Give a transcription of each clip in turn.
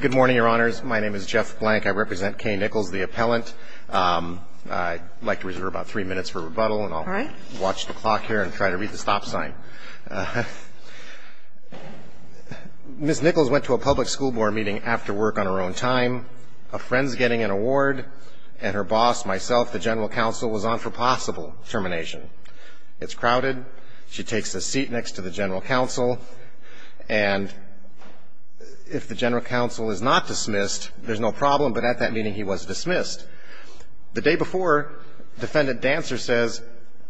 Good morning, Your Honors. My name is Jeff Blank. I represent Kay Nichols, the appellant. I'd like to reserve about three minutes for rebuttal, and I'll watch the clock here and try to read the stop sign. Ms. Nichols went to a public school board meeting after work on her own time. A friend's getting an award, and her boss, myself, the general counsel, was on for possible termination. It's crowded. She takes a seat next to the general counsel. And if the general counsel is not dismissed, there's no problem, but at that meeting, he was dismissed. The day before, Defendant Dancer says,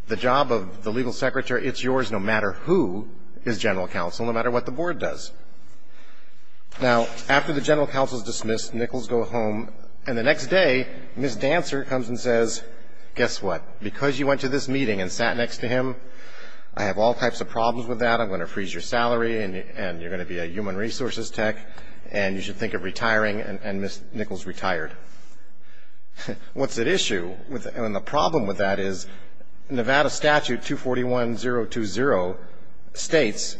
The job of the legal secretary, it's yours no matter who is general counsel, no matter what the board does. Now, after the general counsel is dismissed, Nichols goes home, and the next day, Ms. Dancer comes and says, Guess what? Because you went to this meeting and sat next to him, I have all types of problems with that. I'm going to freeze your salary, and you're going to be a human resources tech, and you should think of retiring. And Ms. Nichols retired. What's at issue, and the problem with that is Nevada Statute 241020 states,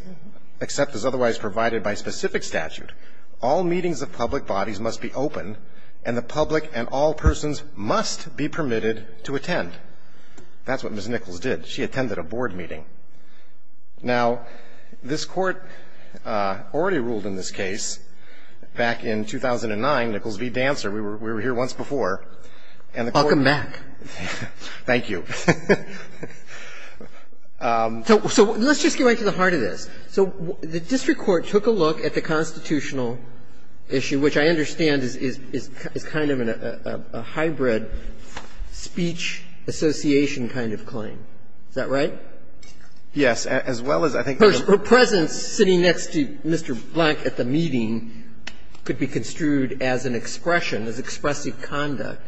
except as otherwise provided by specific statute, all meetings of public bodies must be open, and the public and all persons must be permitted to attend. That's what Ms. Nichols did. She attended a board meeting. Now, this Court already ruled in this case back in 2009, Nichols v. Dancer. We were here once before. And the Court ---- Roberts, thank you. So let's just get right to the heart of this. So the district court took a look at the constitutional issue, which I understand is kind of a hybrid speech association kind of claim, is that right? Yes. As well as I think the ---- Her presence sitting next to Mr. Blank at the meeting could be construed as an expression, as expressive conduct.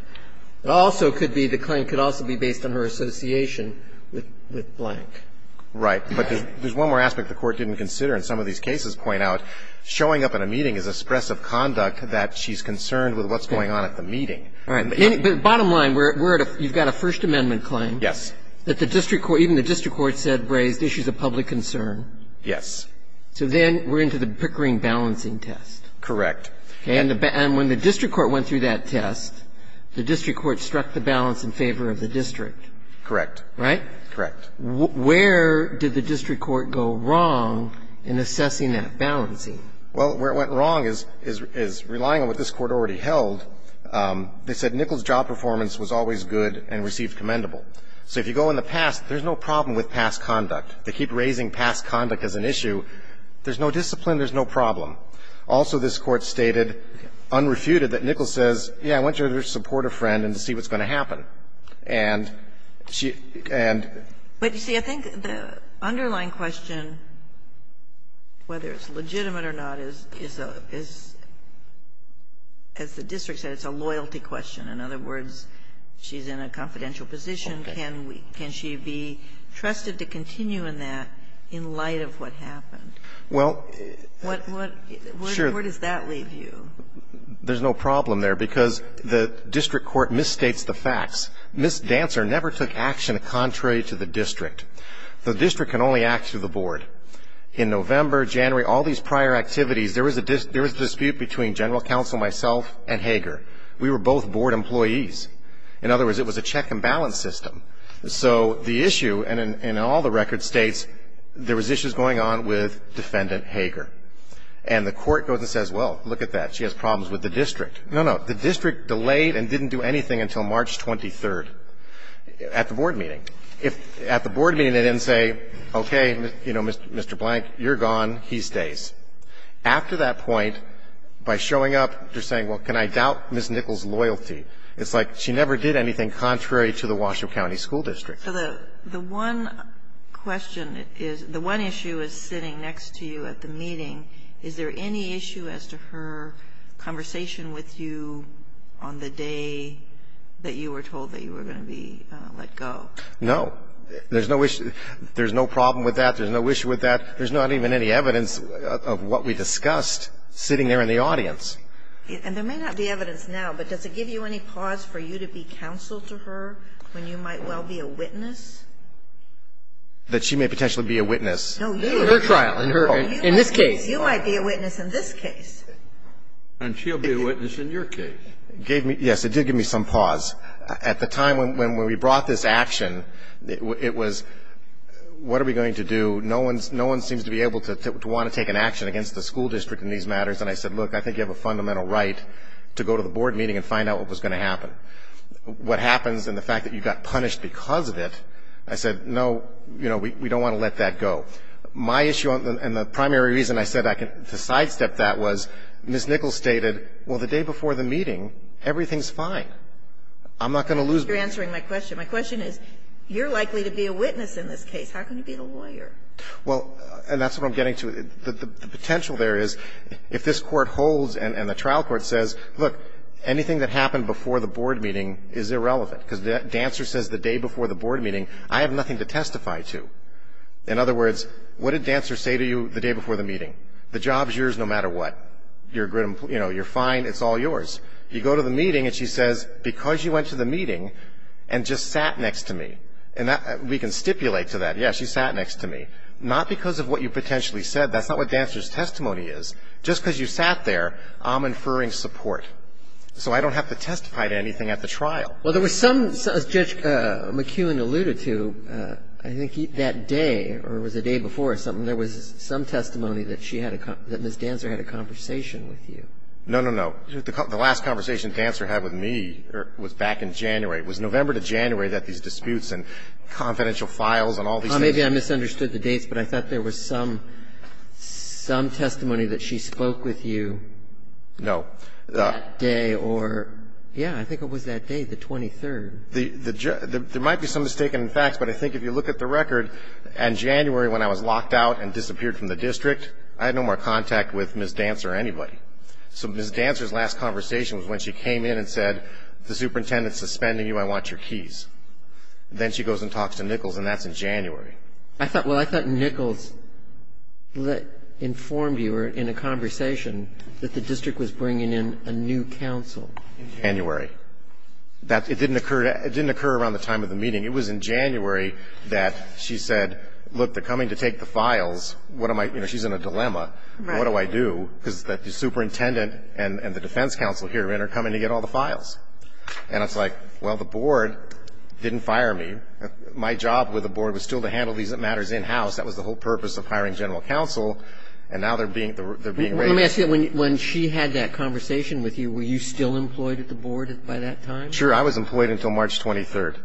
It also could be the claim could also be based on her association with Blank. Right. But there's one more aspect the Court didn't consider. And some of these cases point out showing up at a meeting is expressive conduct, that she's concerned with what's going on at the meeting. All right. But bottom line, we're at a ---- you've got a First Amendment claim. Yes. That the district court, even the district court said, raised issues of public concern. Yes. So then we're into the Pickering balancing test. Correct. And when the district court went through that test, the district court struck the balance in favor of the district. Correct. Right? Correct. Where did the district court go wrong in assessing that balancing? Well, where it went wrong is relying on what this Court already held. They said Nichols' job performance was always good and received commendable. So if you go in the past, there's no problem with past conduct. They keep raising past conduct as an issue. There's no discipline, there's no problem. Also, this Court stated unrefuted that Nichols says, yes, I want you to support a friend and see what's going to happen. And she ---- But, you see, I think the underlying question, whether it's legitimate or not, is a ---- as the district said, it's a loyalty question. In other words, she's in a confidential position. Can we ---- can she be trusted to continue in that in light of what happened? Well, sure. Where does that leave you? There's no problem there, because the district court misstates the facts. Ms. Dancer never took action contrary to the district. The district can only act through the board. In November, January, all these prior activities, there was a dispute between General Counsel, myself, and Hager. We were both board employees. In other words, it was a check and balance system. So the issue, and in all the record states, there was issues going on with Defendant Hager. And the Court goes and says, well, look at that, she has problems with the district. No, no. The district delayed and didn't do anything until March 23rd at the board meeting. At the board meeting, they didn't say, okay, you know, Mr. Blank, you're gone, he stays. After that point, by showing up, they're saying, well, can I doubt Ms. Nichols' loyalty. It's like she never did anything contrary to the Washoe County School District. So the one question is, the one issue is sitting next to you at the meeting. Is there any issue as to her conversation with you on the day that you were told that you were going to be let go? No. There's no issue. There's no problem with that. There's no issue with that. There's not even any evidence of what we discussed sitting there in the audience. And there may not be evidence now, but does it give you any pause for you to be counsel to her when you might well be a witness? That she may potentially be a witness. No, you are. Her trial. In this case. You might be a witness in this case. And she'll be a witness in your case. Yes, it did give me some pause. At the time when we brought this action, it was, what are we going to do? No one seems to be able to want to take an action against the school district in these matters. And I said, look, I think you have a fundamental right to go to the board meeting and find out what was going to happen. What happens in the fact that you got punished because of it, I said, no, you know, we don't want to let that go. My issue and the primary reason I said I can sidestep that was Ms. Nichols stated, well, the day before the meeting, everything's fine. I'm not going to lose my case. You're answering my question. My question is, you're likely to be a witness in this case. How can you be a lawyer? Well, and that's what I'm getting to. The potential there is if this Court holds and the trial court says, look, anything that happened before the board meeting is irrelevant, because Dancer says the day before the board meeting, I have nothing to testify to. In other words, what did Dancer say to you the day before the meeting? The job's yours no matter what. You're fine. It's all yours. You go to the meeting and she says, because you went to the meeting and just sat next to me. And we can stipulate to that, yes, she sat next to me, not because of what you potentially said. That's not what Dancer's testimony is. Just because you sat there, I'm inferring support. So I don't have to testify to anything at the trial. Well, there was some, as Judge McKeown alluded to, I think that day, or was it the day before or something, there was some testimony that she had a, that Ms. Dancer had a conversation with you. No, no, no. The last conversation Dancer had with me was back in January. It was November to January that these disputes and confidential files and all these things. Well, maybe I misunderstood the dates, but I thought there was some, some testimony that she spoke with you. No. That day or, yeah, I think it was that day, the 23rd. There might be some mistaken facts, but I think if you look at the record, in January when I was locked out and disappeared from the district, I had no more contact with Ms. Dancer or anybody. So Ms. Dancer's last conversation was when she came in and said, the superintendent is suspending you. I want your keys. Then she goes and talks to Nichols, and that's in January. I thought, well, I thought Nichols informed you or in a conversation that the district was bringing in a new counsel. In January. That, it didn't occur, it didn't occur around the time of the meeting. It was in January that she said, look, they're coming to take the files. What am I, you know, she's in a dilemma. Right. What do I do, because the superintendent and the defense counsel here are coming to get all the files. And I was like, well, the board didn't fire me. My job with the board was still to handle these matters in-house. That was the whole purpose of hiring general counsel, and now they're being, they're being raided. Let me ask you, when she had that conversation with you, were you still employed at the board by that time? Sure. I was employed until March 23rd.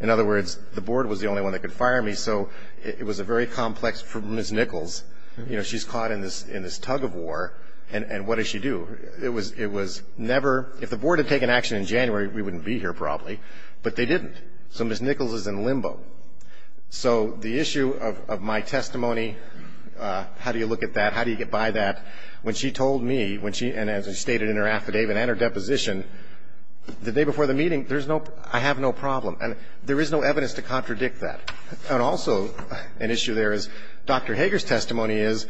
In other words, the board was the only one that could fire me, so it was a very complex for Ms. Nichols. You know, she's caught in this tug of war, and what does she do? It was never, if the board had taken action in January, we wouldn't be here probably, but they didn't. So Ms. Nichols is in limbo. So the issue of my testimony, how do you look at that, how do you get by that, when she told me, when she, and as I stated in her affidavit and her deposition, the day before the meeting, there's no, I have no problem. And there is no evidence to contradict that. And also an issue there is Dr. Hager's testimony is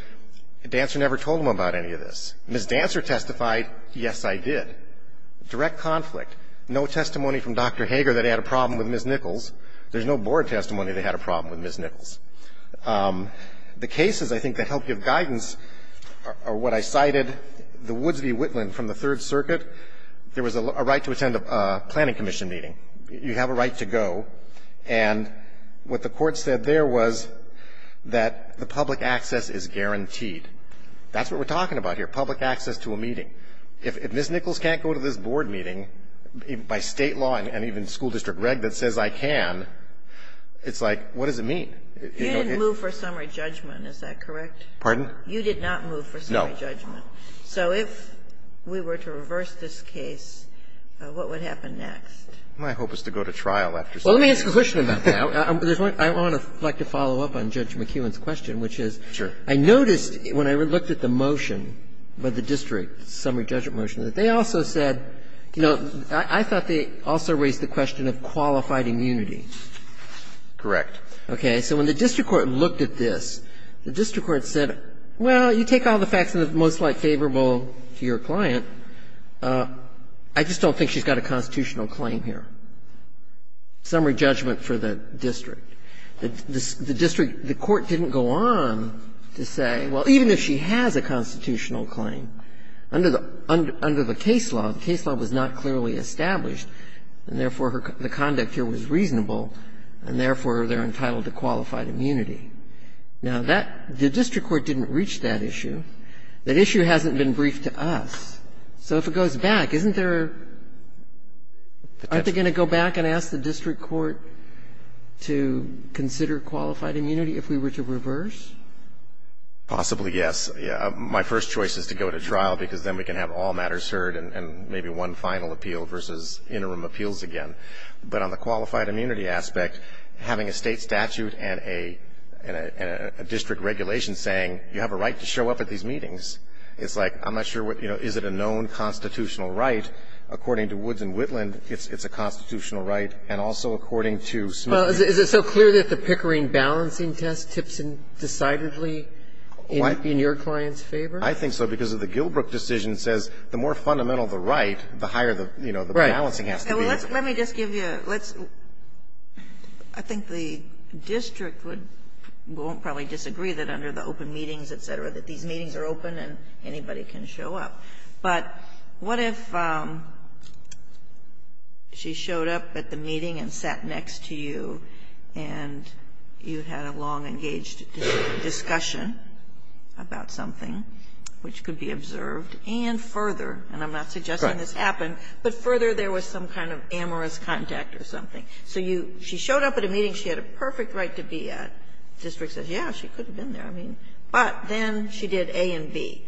Dancer never told him about any of this. Ms. Dancer testified, yes, I did. Direct conflict. No testimony from Dr. Hager that he had a problem with Ms. Nichols. There's no board testimony that he had a problem with Ms. Nichols. The cases, I think, that help give guidance are what I cited, the Woods v. Whitland from the Third Circuit. There was a right to attend a planning commission meeting. You have a right to go. And what the Court said there was that the public access is guaranteed. That's what we're talking about here, public access to a meeting. If Ms. Nichols can't go to this board meeting, by State law and even school district reg that says I can, it's like, what does it mean? You didn't move for summary judgment, is that correct? Pardon? You did not move for summary judgment. No. So if we were to reverse this case, what would happen next? My hope is to go to trial after summary judgment. Well, let me ask a question about that. I want to follow up on Judge McKeown's question, which is I noticed when I looked at the motion, the district summary judgment motion, that they also said, you know, I thought they also raised the question of qualified immunity. Correct. Okay. So when the district court looked at this, the district court said, well, you take all the facts in the most light favorable to your client. I just don't think she's got a constitutional claim here. Summary judgment for the district. The district, the court didn't go on to say, well, even if she has a constitutional claim, under the case law, the case law was not clearly established, and, therefore, the conduct here was reasonable, and, therefore, they're entitled to qualified immunity. Now, that the district court didn't reach that issue. That issue hasn't been briefed to us. So if it goes back, isn't there are they going to go back and ask the district court to consider qualified immunity if we were to reverse? Possibly, yes. My first choice is to go to trial, because then we can have all matters heard and maybe one final appeal versus interim appeals again. But on the qualified immunity aspect, having a State statute and a district regulation saying you have a right to show up at these meetings, it's like, I'm not sure, you know, is it a known constitutional right? According to Woods and Whitland, it's a constitutional right. And also according to Smith. Well, is it so clear that the Pickering balancing test tips in decidedly in your client's favor? I think so, because the Gilbrook decision says the more fundamental the right, the higher the, you know, the balancing has to be. Let me just give you a, let's, I think the district would, won't probably disagree that under the open meetings, et cetera, that these meetings are open and anybody can show up. But what if she showed up at the meeting and sat next to you and you had a long-engaged discussion about something which could be observed and further, and I'm not suggesting this happened, but further there was some kind of amorous contact or something. So you, she showed up at a meeting she had a perfect right to be at, the district says, yes, she could have been there. I mean, but then she did A and B.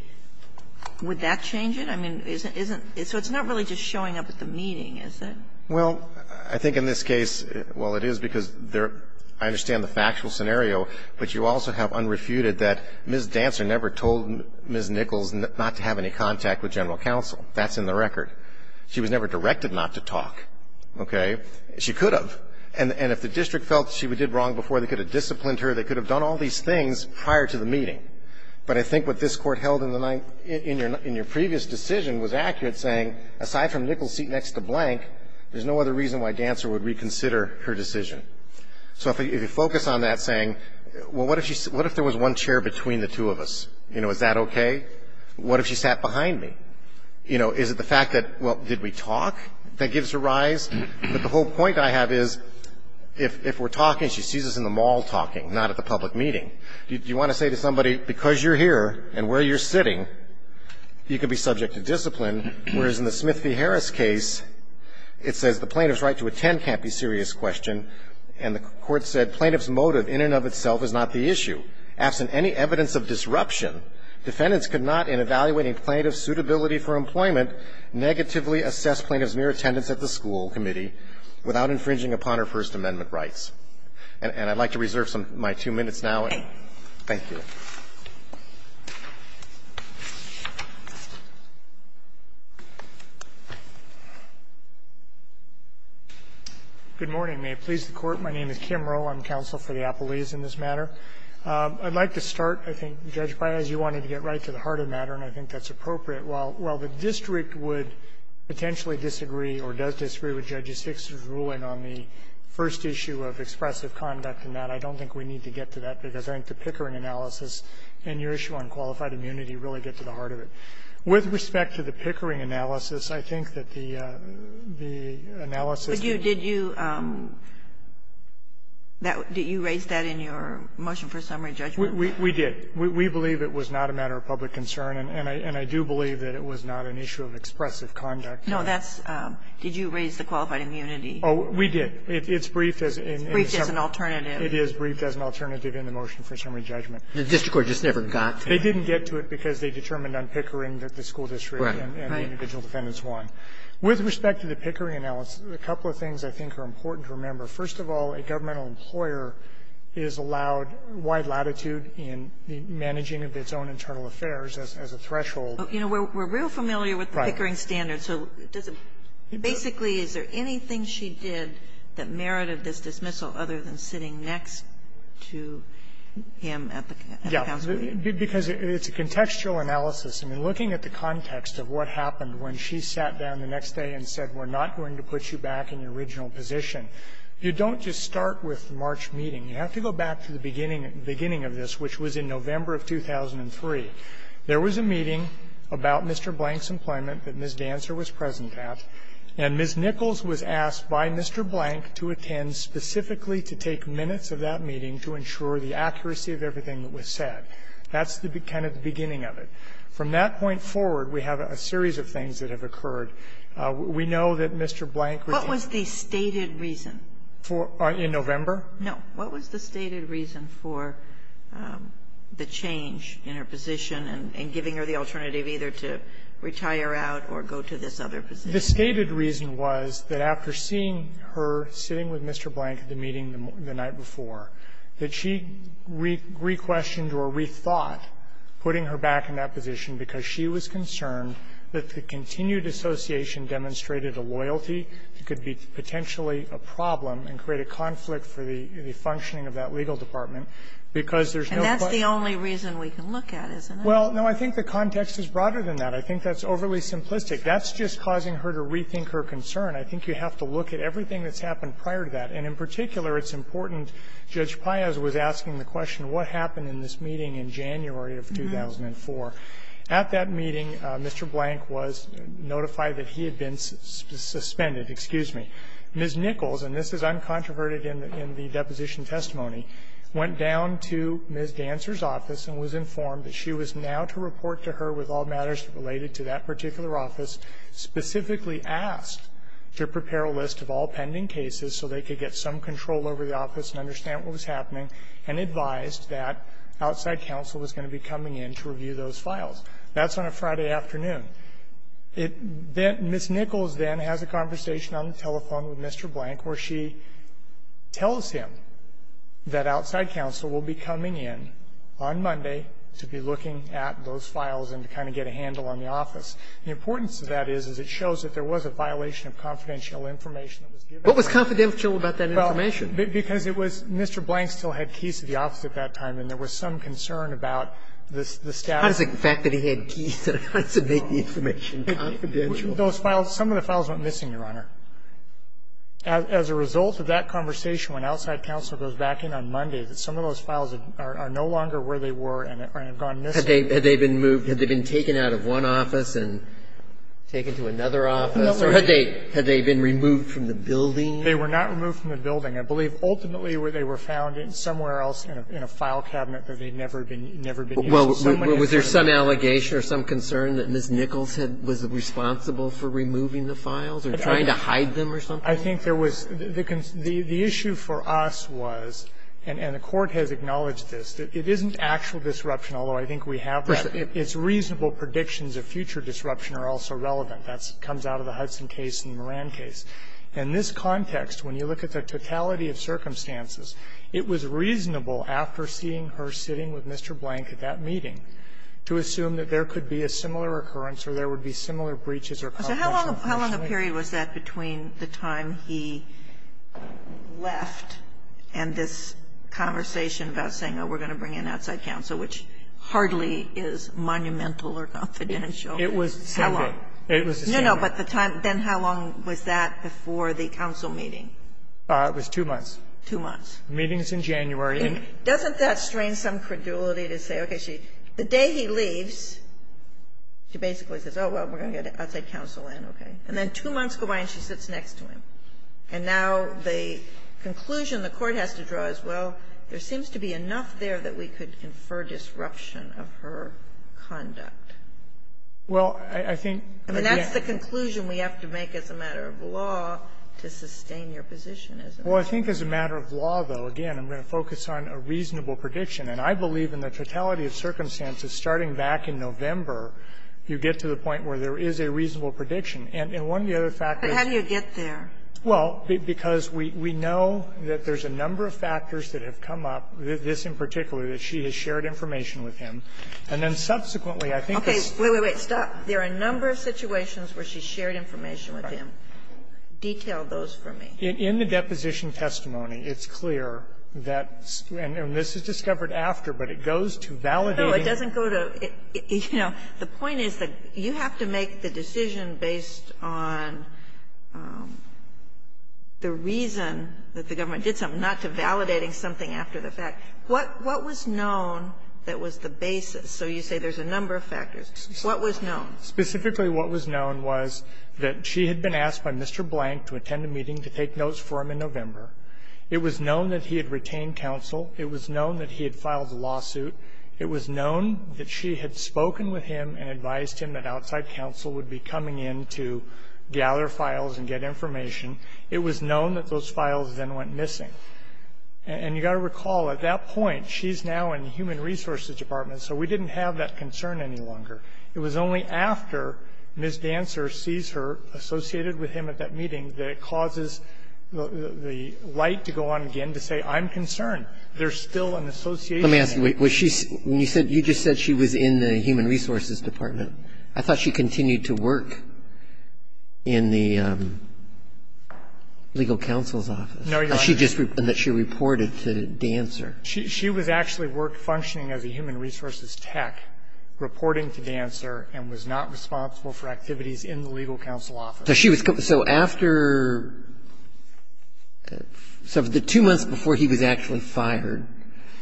Would that change it? I mean, isn't, so it's not really just showing up at the meeting, is it? Well, I think in this case, well, it is because there, I understand the factual scenario, but you also have unrefuted that Ms. Dantzer never told Ms. Nichols not to have any contact with general counsel. That's in the record. She was never directed not to talk, okay? She could have. And if the district felt she did wrong before, they could have disciplined her, they could have done all these things prior to the meeting. But I think what this Court held in the, in your previous decision was accurate, saying aside from Nichols' seat next to blank, there's no other reason why Dantzer would reconsider her decision. So if you focus on that, saying, well, what if she, what if there was one chair between the two of us? You know, is that okay? What if she sat behind me? You know, is it the fact that, well, did we talk that gives her rise? But the whole point I have is if we're talking, she sees us in the mall talking. Not at the public meeting. You want to say to somebody, because you're here and where you're sitting, you could be subject to discipline, whereas in the Smith v. Harris case, it says the plaintiff's right to attend can't be a serious question, and the Court said plaintiff's motive in and of itself is not the issue. Absent any evidence of disruption, defendants could not, in evaluating plaintiff's suitability for employment, negatively assess plaintiff's mere attendance at the school committee without infringing upon her First Amendment rights. And I'd like to reserve some of my two minutes now. Thank you. Kimbrough, I'm counsel for the appellees in this matter. I'd like to start, I think, Judge Baez, you wanted to get right to the heart of the matter, and I think that's appropriate. While the district would potentially disagree or does disagree with Judge Hicks' ruling on the first issue of expressive conduct in that, I don't think we need to get to that, because I think the Pickering analysis and your issue on qualified immunity really get to the heart of it. With respect to the Pickering analysis, I think that the analysis that you raised that in your motion for summary judgment? We did. We believe it was not a matter of public concern, and I do believe that it was not an issue of expressive conduct. No, that's, did you raise the qualified immunity? Oh, we did. It's briefed as an alternative. It is briefed as an alternative in the motion for summary judgment. The district court just never got to it. They didn't get to it because they determined on Pickering that the school district and the individual defendants won. Right. With respect to the Pickering analysis, a couple of things I think are important to remember. First of all, a governmental employer is allowed wide latitude in the managing of its own internal affairs as a threshold. You know, we're real familiar with the Pickering standards. So does it, basically, is there anything she did that merited this dismissal other than sitting next to him at the counsel meeting? Yeah, because it's a contextual analysis. I mean, looking at the context of what happened when she sat down the next day and said, we're not going to put you back in your original position, you don't just start with the March meeting. You have to go back to the beginning of this, which was in November of 2003. There was a meeting about Mr. Blank's employment that Ms. Dancer was present at, and Ms. Nichols was asked by Mr. Blank to attend specifically to take minutes of that meeting to ensure the accuracy of everything that was said. That's the kind of beginning of it. From that point forward, we have a series of things that have occurred. We know that Mr. Blank was in the meeting. What was the stated reason? In November? No. What was the stated reason for the change in her position and giving her the alternative either to retire out or go to this other position? The stated reason was that after seeing her sitting with Mr. Blank at the meeting the night before, that she requestioned or rethought putting her back in that position because she was concerned that the continued association demonstrated a loyalty that could be potentially a problem and create a conflict for the functioning of that legal department because there's no question. And that's the only reason we can look at, isn't it? Well, no. I think the context is broader than that. I think that's overly simplistic. That's just causing her to rethink her concern. I think you have to look at everything that's happened prior to that. And in particular, it's important Judge Payaz was asking the question, what happened in this meeting in January of 2004? At that meeting, Mr. Blank was notified that he had been suspended. Excuse me. Ms. Nichols, and this is uncontroverted in the deposition testimony, went down to Ms. Dancer's office and was informed that she was now to report to her with all matters related to that particular office, specifically asked to prepare a list of all pending cases so they could get some control over the office and understand what was happening, and advised that outside counsel was going to be coming in to review those files. That's on a Friday afternoon. Ms. Nichols then has a conversation on the telephone with Mr. Blank where she tells him that outside counsel will be coming in on Monday to be looking at those files and to kind of get a handle on the office. The importance of that is it shows that there was a violation of confidential information that was given. What was confidential about that information? Because it was Mr. Blank still had keys to the office at that time, and there was some concern about the staff. How does the fact that he had keys make the information confidential? Those files, some of the files went missing, Your Honor. As a result of that conversation, when outside counsel goes back in on Monday, that some of those files are no longer where they were and have gone missing. Had they been moved? Had they been taken out of one office and taken to another office? Or had they been removed from the building? They were not removed from the building. I believe ultimately they were found somewhere else in a file cabinet that they had never been used. So many of them were found in a file cabinet that they had never been used. Well, was there some allegation or some concern that Ms. Nichols was responsible for removing the files or trying to hide them or something? I think there was the issue for us was, and the Court has acknowledged this, it isn't actual disruption, although I think we have that. It's reasonable predictions of future disruption are also relevant. That comes out of the Hudson case and the Moran case. In this context, when you look at the totality of circumstances, it was reasonable after seeing her sitting with Mr. Blank at that meeting to assume that there could be a similar occurrence or there would be similar breaches or confidential questioning. How long a period was that between the time he left and this conversation about saying, oh, we're going to bring in outside counsel, which hardly is monumental or confidential? It was the same day. It was the same day. No, but the time then, how long was that before the counsel meeting? It was two months. Two months. The meeting is in January. And doesn't that strain some credulity to say, okay, the day he leaves, she basically says, oh, well, we're going to get outside counsel in, okay, and then two months go by and she sits next to him, and now the conclusion the Court has to draw is, well, there seems to be enough there that we could infer disruption of her conduct. Well, I think again. And that's the conclusion we have to make as a matter of law to sustain your position as a matter of law. Well, I think as a matter of law, though, again, I'm going to focus on a reasonable prediction. And I believe in the totality of circumstances, starting back in November, you get to the point where there is a reasonable prediction. And one of the other factors. But how do you get there? Well, because we know that there's a number of factors that have come up, this in particular, that she has shared information with him. And then subsequently, I think it's the same. She has shared information with him, detailed those for me. In the deposition testimony, it's clear that, and this is discovered after, but it goes to validating. No, it doesn't go to, you know, the point is that you have to make the decision based on the reason that the government did something, not to validating something after the fact. What was known that was the basis? So you say there's a number of factors. What was known? Specifically, what was known was that she had been asked by Mr. Blank to attend a meeting to take notes for him in November. It was known that he had retained counsel. It was known that he had filed a lawsuit. It was known that she had spoken with him and advised him that outside counsel would be coming in to gather files and get information. It was known that those files then went missing. And you got to recall, at that point, she's now in the Human Resources Department, so we didn't have that concern any longer. It was only after Ms. Dancer sees her associated with him at that meeting that it causes the light to go on again to say, I'm concerned. There's still an association. Let me ask you, was she you said you just said she was in the Human Resources Department. I thought she continued to work in the legal counsel's office. No, Your Honor. And that she reported to Dancer. She was actually functioning as a Human Resources tech, reporting to Dancer, and was not responsible for activities in the legal counsel's office. So she was so after the two months before he was actually fired,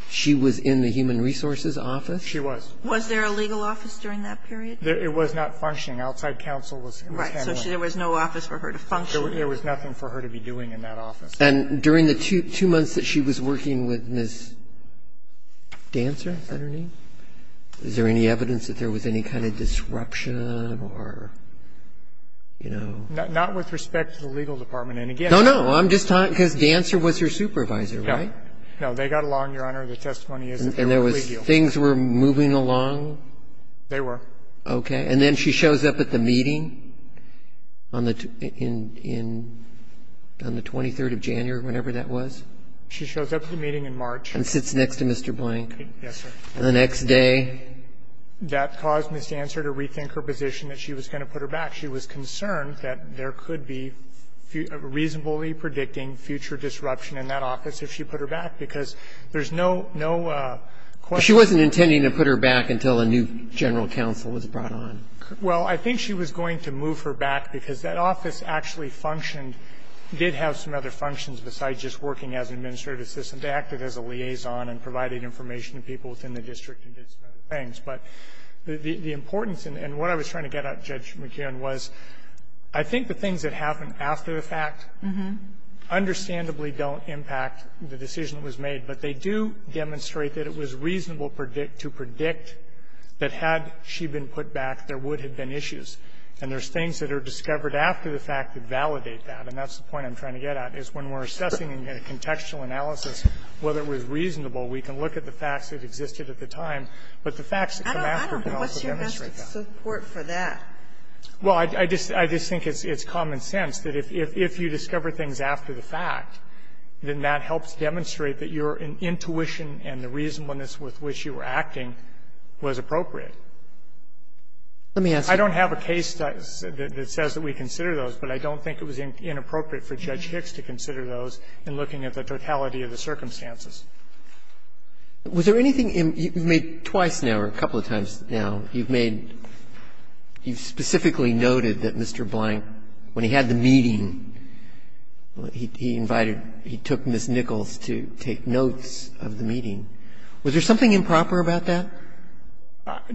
she was in the Human Resources office? She was. Was there a legal office during that period? It was not functioning. Outside counsel was handling it. Right. So there was no office for her to function. There was nothing for her to be doing in that office. And during the two months that she was working with Ms. Dancer, is that her name? Is there any evidence that there was any kind of disruption or, you know? Not with respect to the legal department. And again, I'm just talking because Dancer was her supervisor, right? No. No. They got along, Your Honor. The testimony is that they were collegial. And there was things were moving along? They were. Okay. And then she shows up at the meeting on the 23rd of January, whenever that was? She shows up at the meeting in March. And sits next to Mr. Blank. Yes, sir. And the next day? That caused Ms. Dancer to rethink her position that she was going to put her back. She was concerned that there could be reasonably predicting future disruption in that office if she put her back, because there's no question. She wasn't intending to put her back until a new general counsel was brought on. Well, I think she was going to move her back because that office actually functioned, did have some other functions besides just working as an administrative assistant. They acted as a liaison and provided information to people within the district and did some other things. But the importance, and what I was trying to get at, Judge McKeon, was I think the things that happened after the fact understandably don't impact the decision that was made, but they do demonstrate that it was reasonable to predict that had she been put back, there would have been issues. And there's things that are discovered after the fact that validate that. And that's the point I'm trying to get at, is when we're assessing a contextual analysis, whether it was reasonable, we can look at the facts that existed at the time, but the facts that come after that also demonstrate that. I don't know what's your best support for that. Well, I just think it's common sense that if you discover things after the fact, then that helps demonstrate that your intuition and the reasonableness with which you were acting was appropriate. Let me ask you. I don't have a case that says that we consider those, but I don't think it was inappropriate for Judge Hicks to consider those in looking at the totality of the circumstances. Was there anything in you've made twice now, or a couple of times now, you've made you've specifically noted that Mr. Blank, when he had the meeting, he invited Ms. Nichols to take notes of the meeting. Was there something improper about that?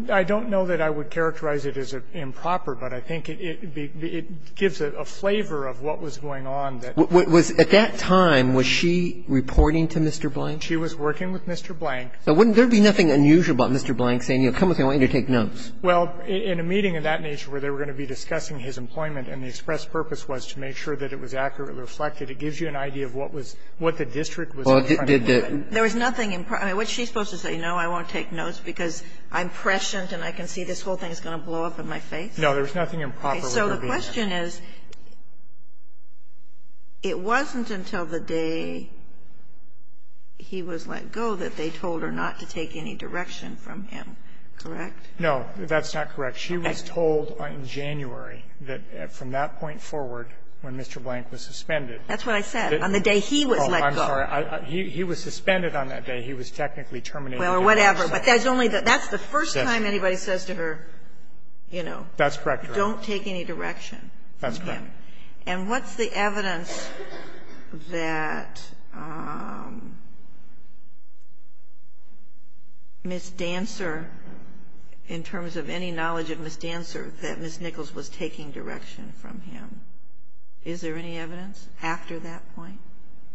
I don't know that I would characterize it as improper, but I think it gives a flavor of what was going on. Was, at that time, was she reporting to Mr. Blank? She was working with Mr. Blank. So wouldn't there be nothing unusual about Mr. Blank saying, you know, come with me, I want you to take notes? Well, in a meeting of that nature where they were going to be discussing his employment and the express purpose was to make sure that it was accurately reflected, it gives you an idea of what was, what the district was trying to do. There was nothing improper. I mean, what's she supposed to say? No, I won't take notes because I'm prescient and I can see this whole thing is going to blow up in my face? No, there was nothing improper. So the question is, it wasn't until the day he was let go that they told her not to take any direction from him, correct? No, that's not correct. She was told in January that from that point forward, when Mr. Blank was suspended. That's what I said, on the day he was let go. Oh, I'm sorry. He was suspended on that day. He was technically terminated. Well, or whatever, but that's only the first time anybody says to her, you know. That's correct, Your Honor. Don't take any direction from him. That's correct. And what's the evidence that Ms. Dancer, in terms of any knowledge of Ms. Dancer, that Ms. Nichols was taking direction from him? Is there any evidence after that point?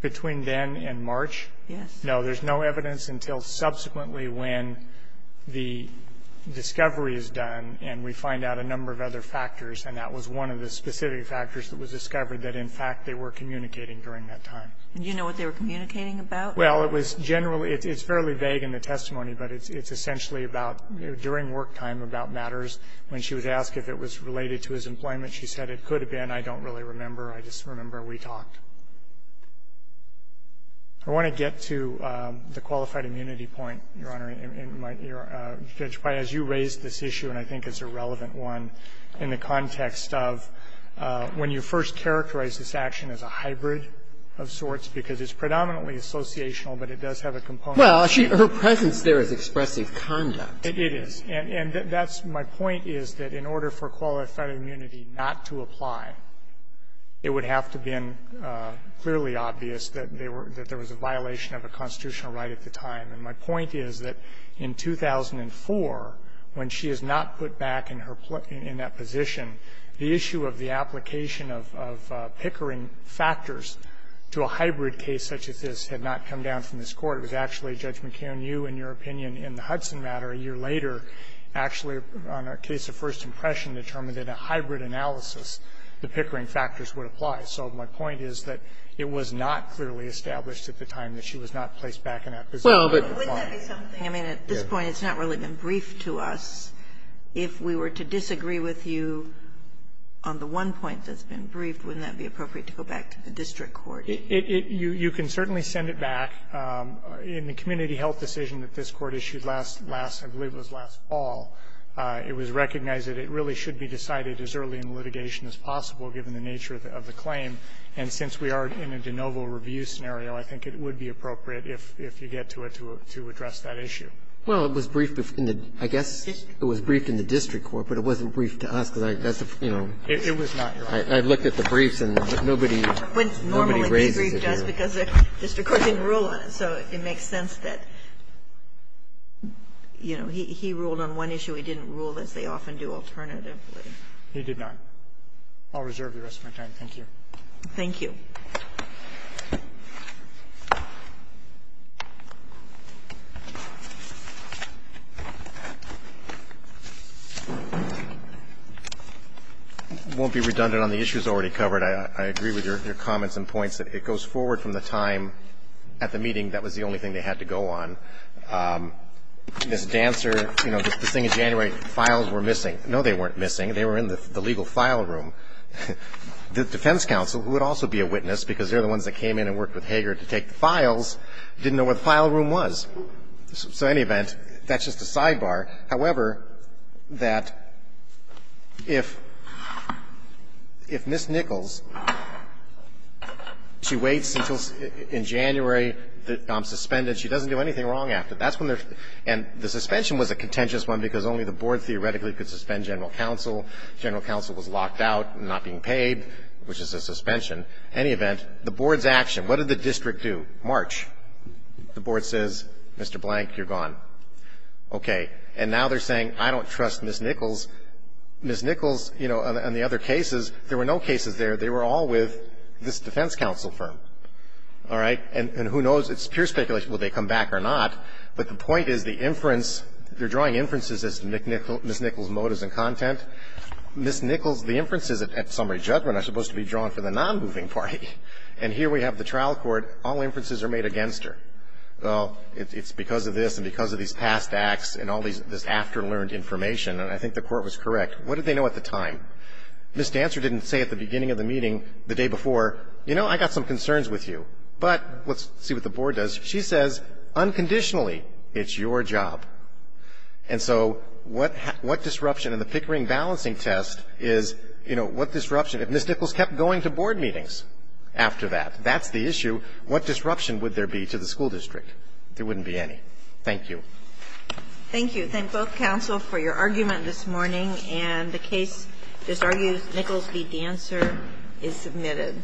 Between then and March? Yes. No, there's no evidence until subsequently when the discovery is done and we find out a number of other factors, and that was one of the specific factors that was discovered that, in fact, they were communicating during that time. Do you know what they were communicating about? Well, it was generally – it's fairly vague in the testimony, but it's essentially about during work time about matters. When she was asked if it was related to his employment, she said it could have been. I don't really remember. I just remember we talked. I want to get to the qualified immunity point, Your Honor, in my – as you raised this issue, and I think it's a relevant one, in the context of when you first characterize this action as a hybrid of sorts, because it's predominantly associational, but it does have a component. Well, her presence there is expressive conduct. It is. And that's – my point is that in order for qualified immunity not to apply, it would have to have been clearly obvious that they were – that there was a violation of a constitutional right at the time. And my point is that in 2004, when she is not put back in her – in that position, the issue of the application of Pickering factors to a hybrid case such as this had not come down from this Court. It was actually Judge McKeon, you, in your opinion, in the Hudson matter a year later, actually, on a case of first impression, determined that a hybrid analysis, the Pickering factors would apply. So my point is that it was not clearly established at the time that she was not placed back in that position to apply. I mean, at this point, it's not really been briefed to us. If we were to disagree with you on the one point that's been briefed, wouldn't that be appropriate to go back to the district court? It – you can certainly send it back. In the community health decision that this Court issued last – last, I believe, was last fall, it was recognized that it really should be decided as early in litigation as possible, given the nature of the claim. And since we are in a de novo review scenario, I think it would be appropriate if you get to it to address that issue. Well, it was briefed in the – I guess it was briefed in the district court, but it wasn't briefed to us, because that's a – you know. It was not, Your Honor. I looked at the briefs, and nobody – nobody raises it here. Normally, this brief does, because the district court didn't rule on it. So it makes sense that, you know, he ruled on one issue. He didn't rule, as they often do alternatively. He did not. I'll reserve the rest of my time. Thank you. Thank you. It won't be redundant on the issues already covered. I agree with your comments and points that it goes forward from the time at the meeting that was the only thing they had to go on. Ms. Dancer, you know, this thing in January, files were missing. No, they weren't missing. They were in the legal file room. The defense counsel, who would also be a witness, because they're the ones that came in and worked with Hager to take the files, didn't know where the file room was. So in any event, that's just a sidebar. However, that if – if Ms. Nichols, she waits until in January, I'm suspended. She doesn't do anything wrong after. That's when they're – and the suspension was a contentious one, because only the board theoretically could suspend general counsel. General counsel was locked out, not being paid, which is a suspension. Any event, the board's action, what did the district do? March. The board says, Mr. Blank, you're gone. Okay. And now they're saying, I don't trust Ms. Nichols. Ms. Nichols, you know, on the other cases, there were no cases there. They were all with this defense counsel firm. All right? And who knows? It's pure speculation, will they come back or not. But the point is the inference, they're drawing inferences as to Ms. Nichols' motives and content. Ms. Nichols, the inferences at summary judgment are supposed to be drawn for the nonmoving party. And here we have the trial court, all inferences are made against her. Well, it's because of this and because of these past acts and all these – this after-learned information, and I think the court was correct. What did they know at the time? Ms. Dancer didn't say at the beginning of the meeting, the day before, you know, I got some concerns with you. But let's see what the board does. She says, unconditionally, it's your job. And so what disruption in the Pickering balancing test is, you know, what disruption – if Ms. Nichols kept going to board meetings after that, that's the issue, what disruption would there be to the school district? There wouldn't be any. Thank you. Thank you. Thank both counsel for your argument this morning. And the case disargues Nichols v. Dancer is submitted.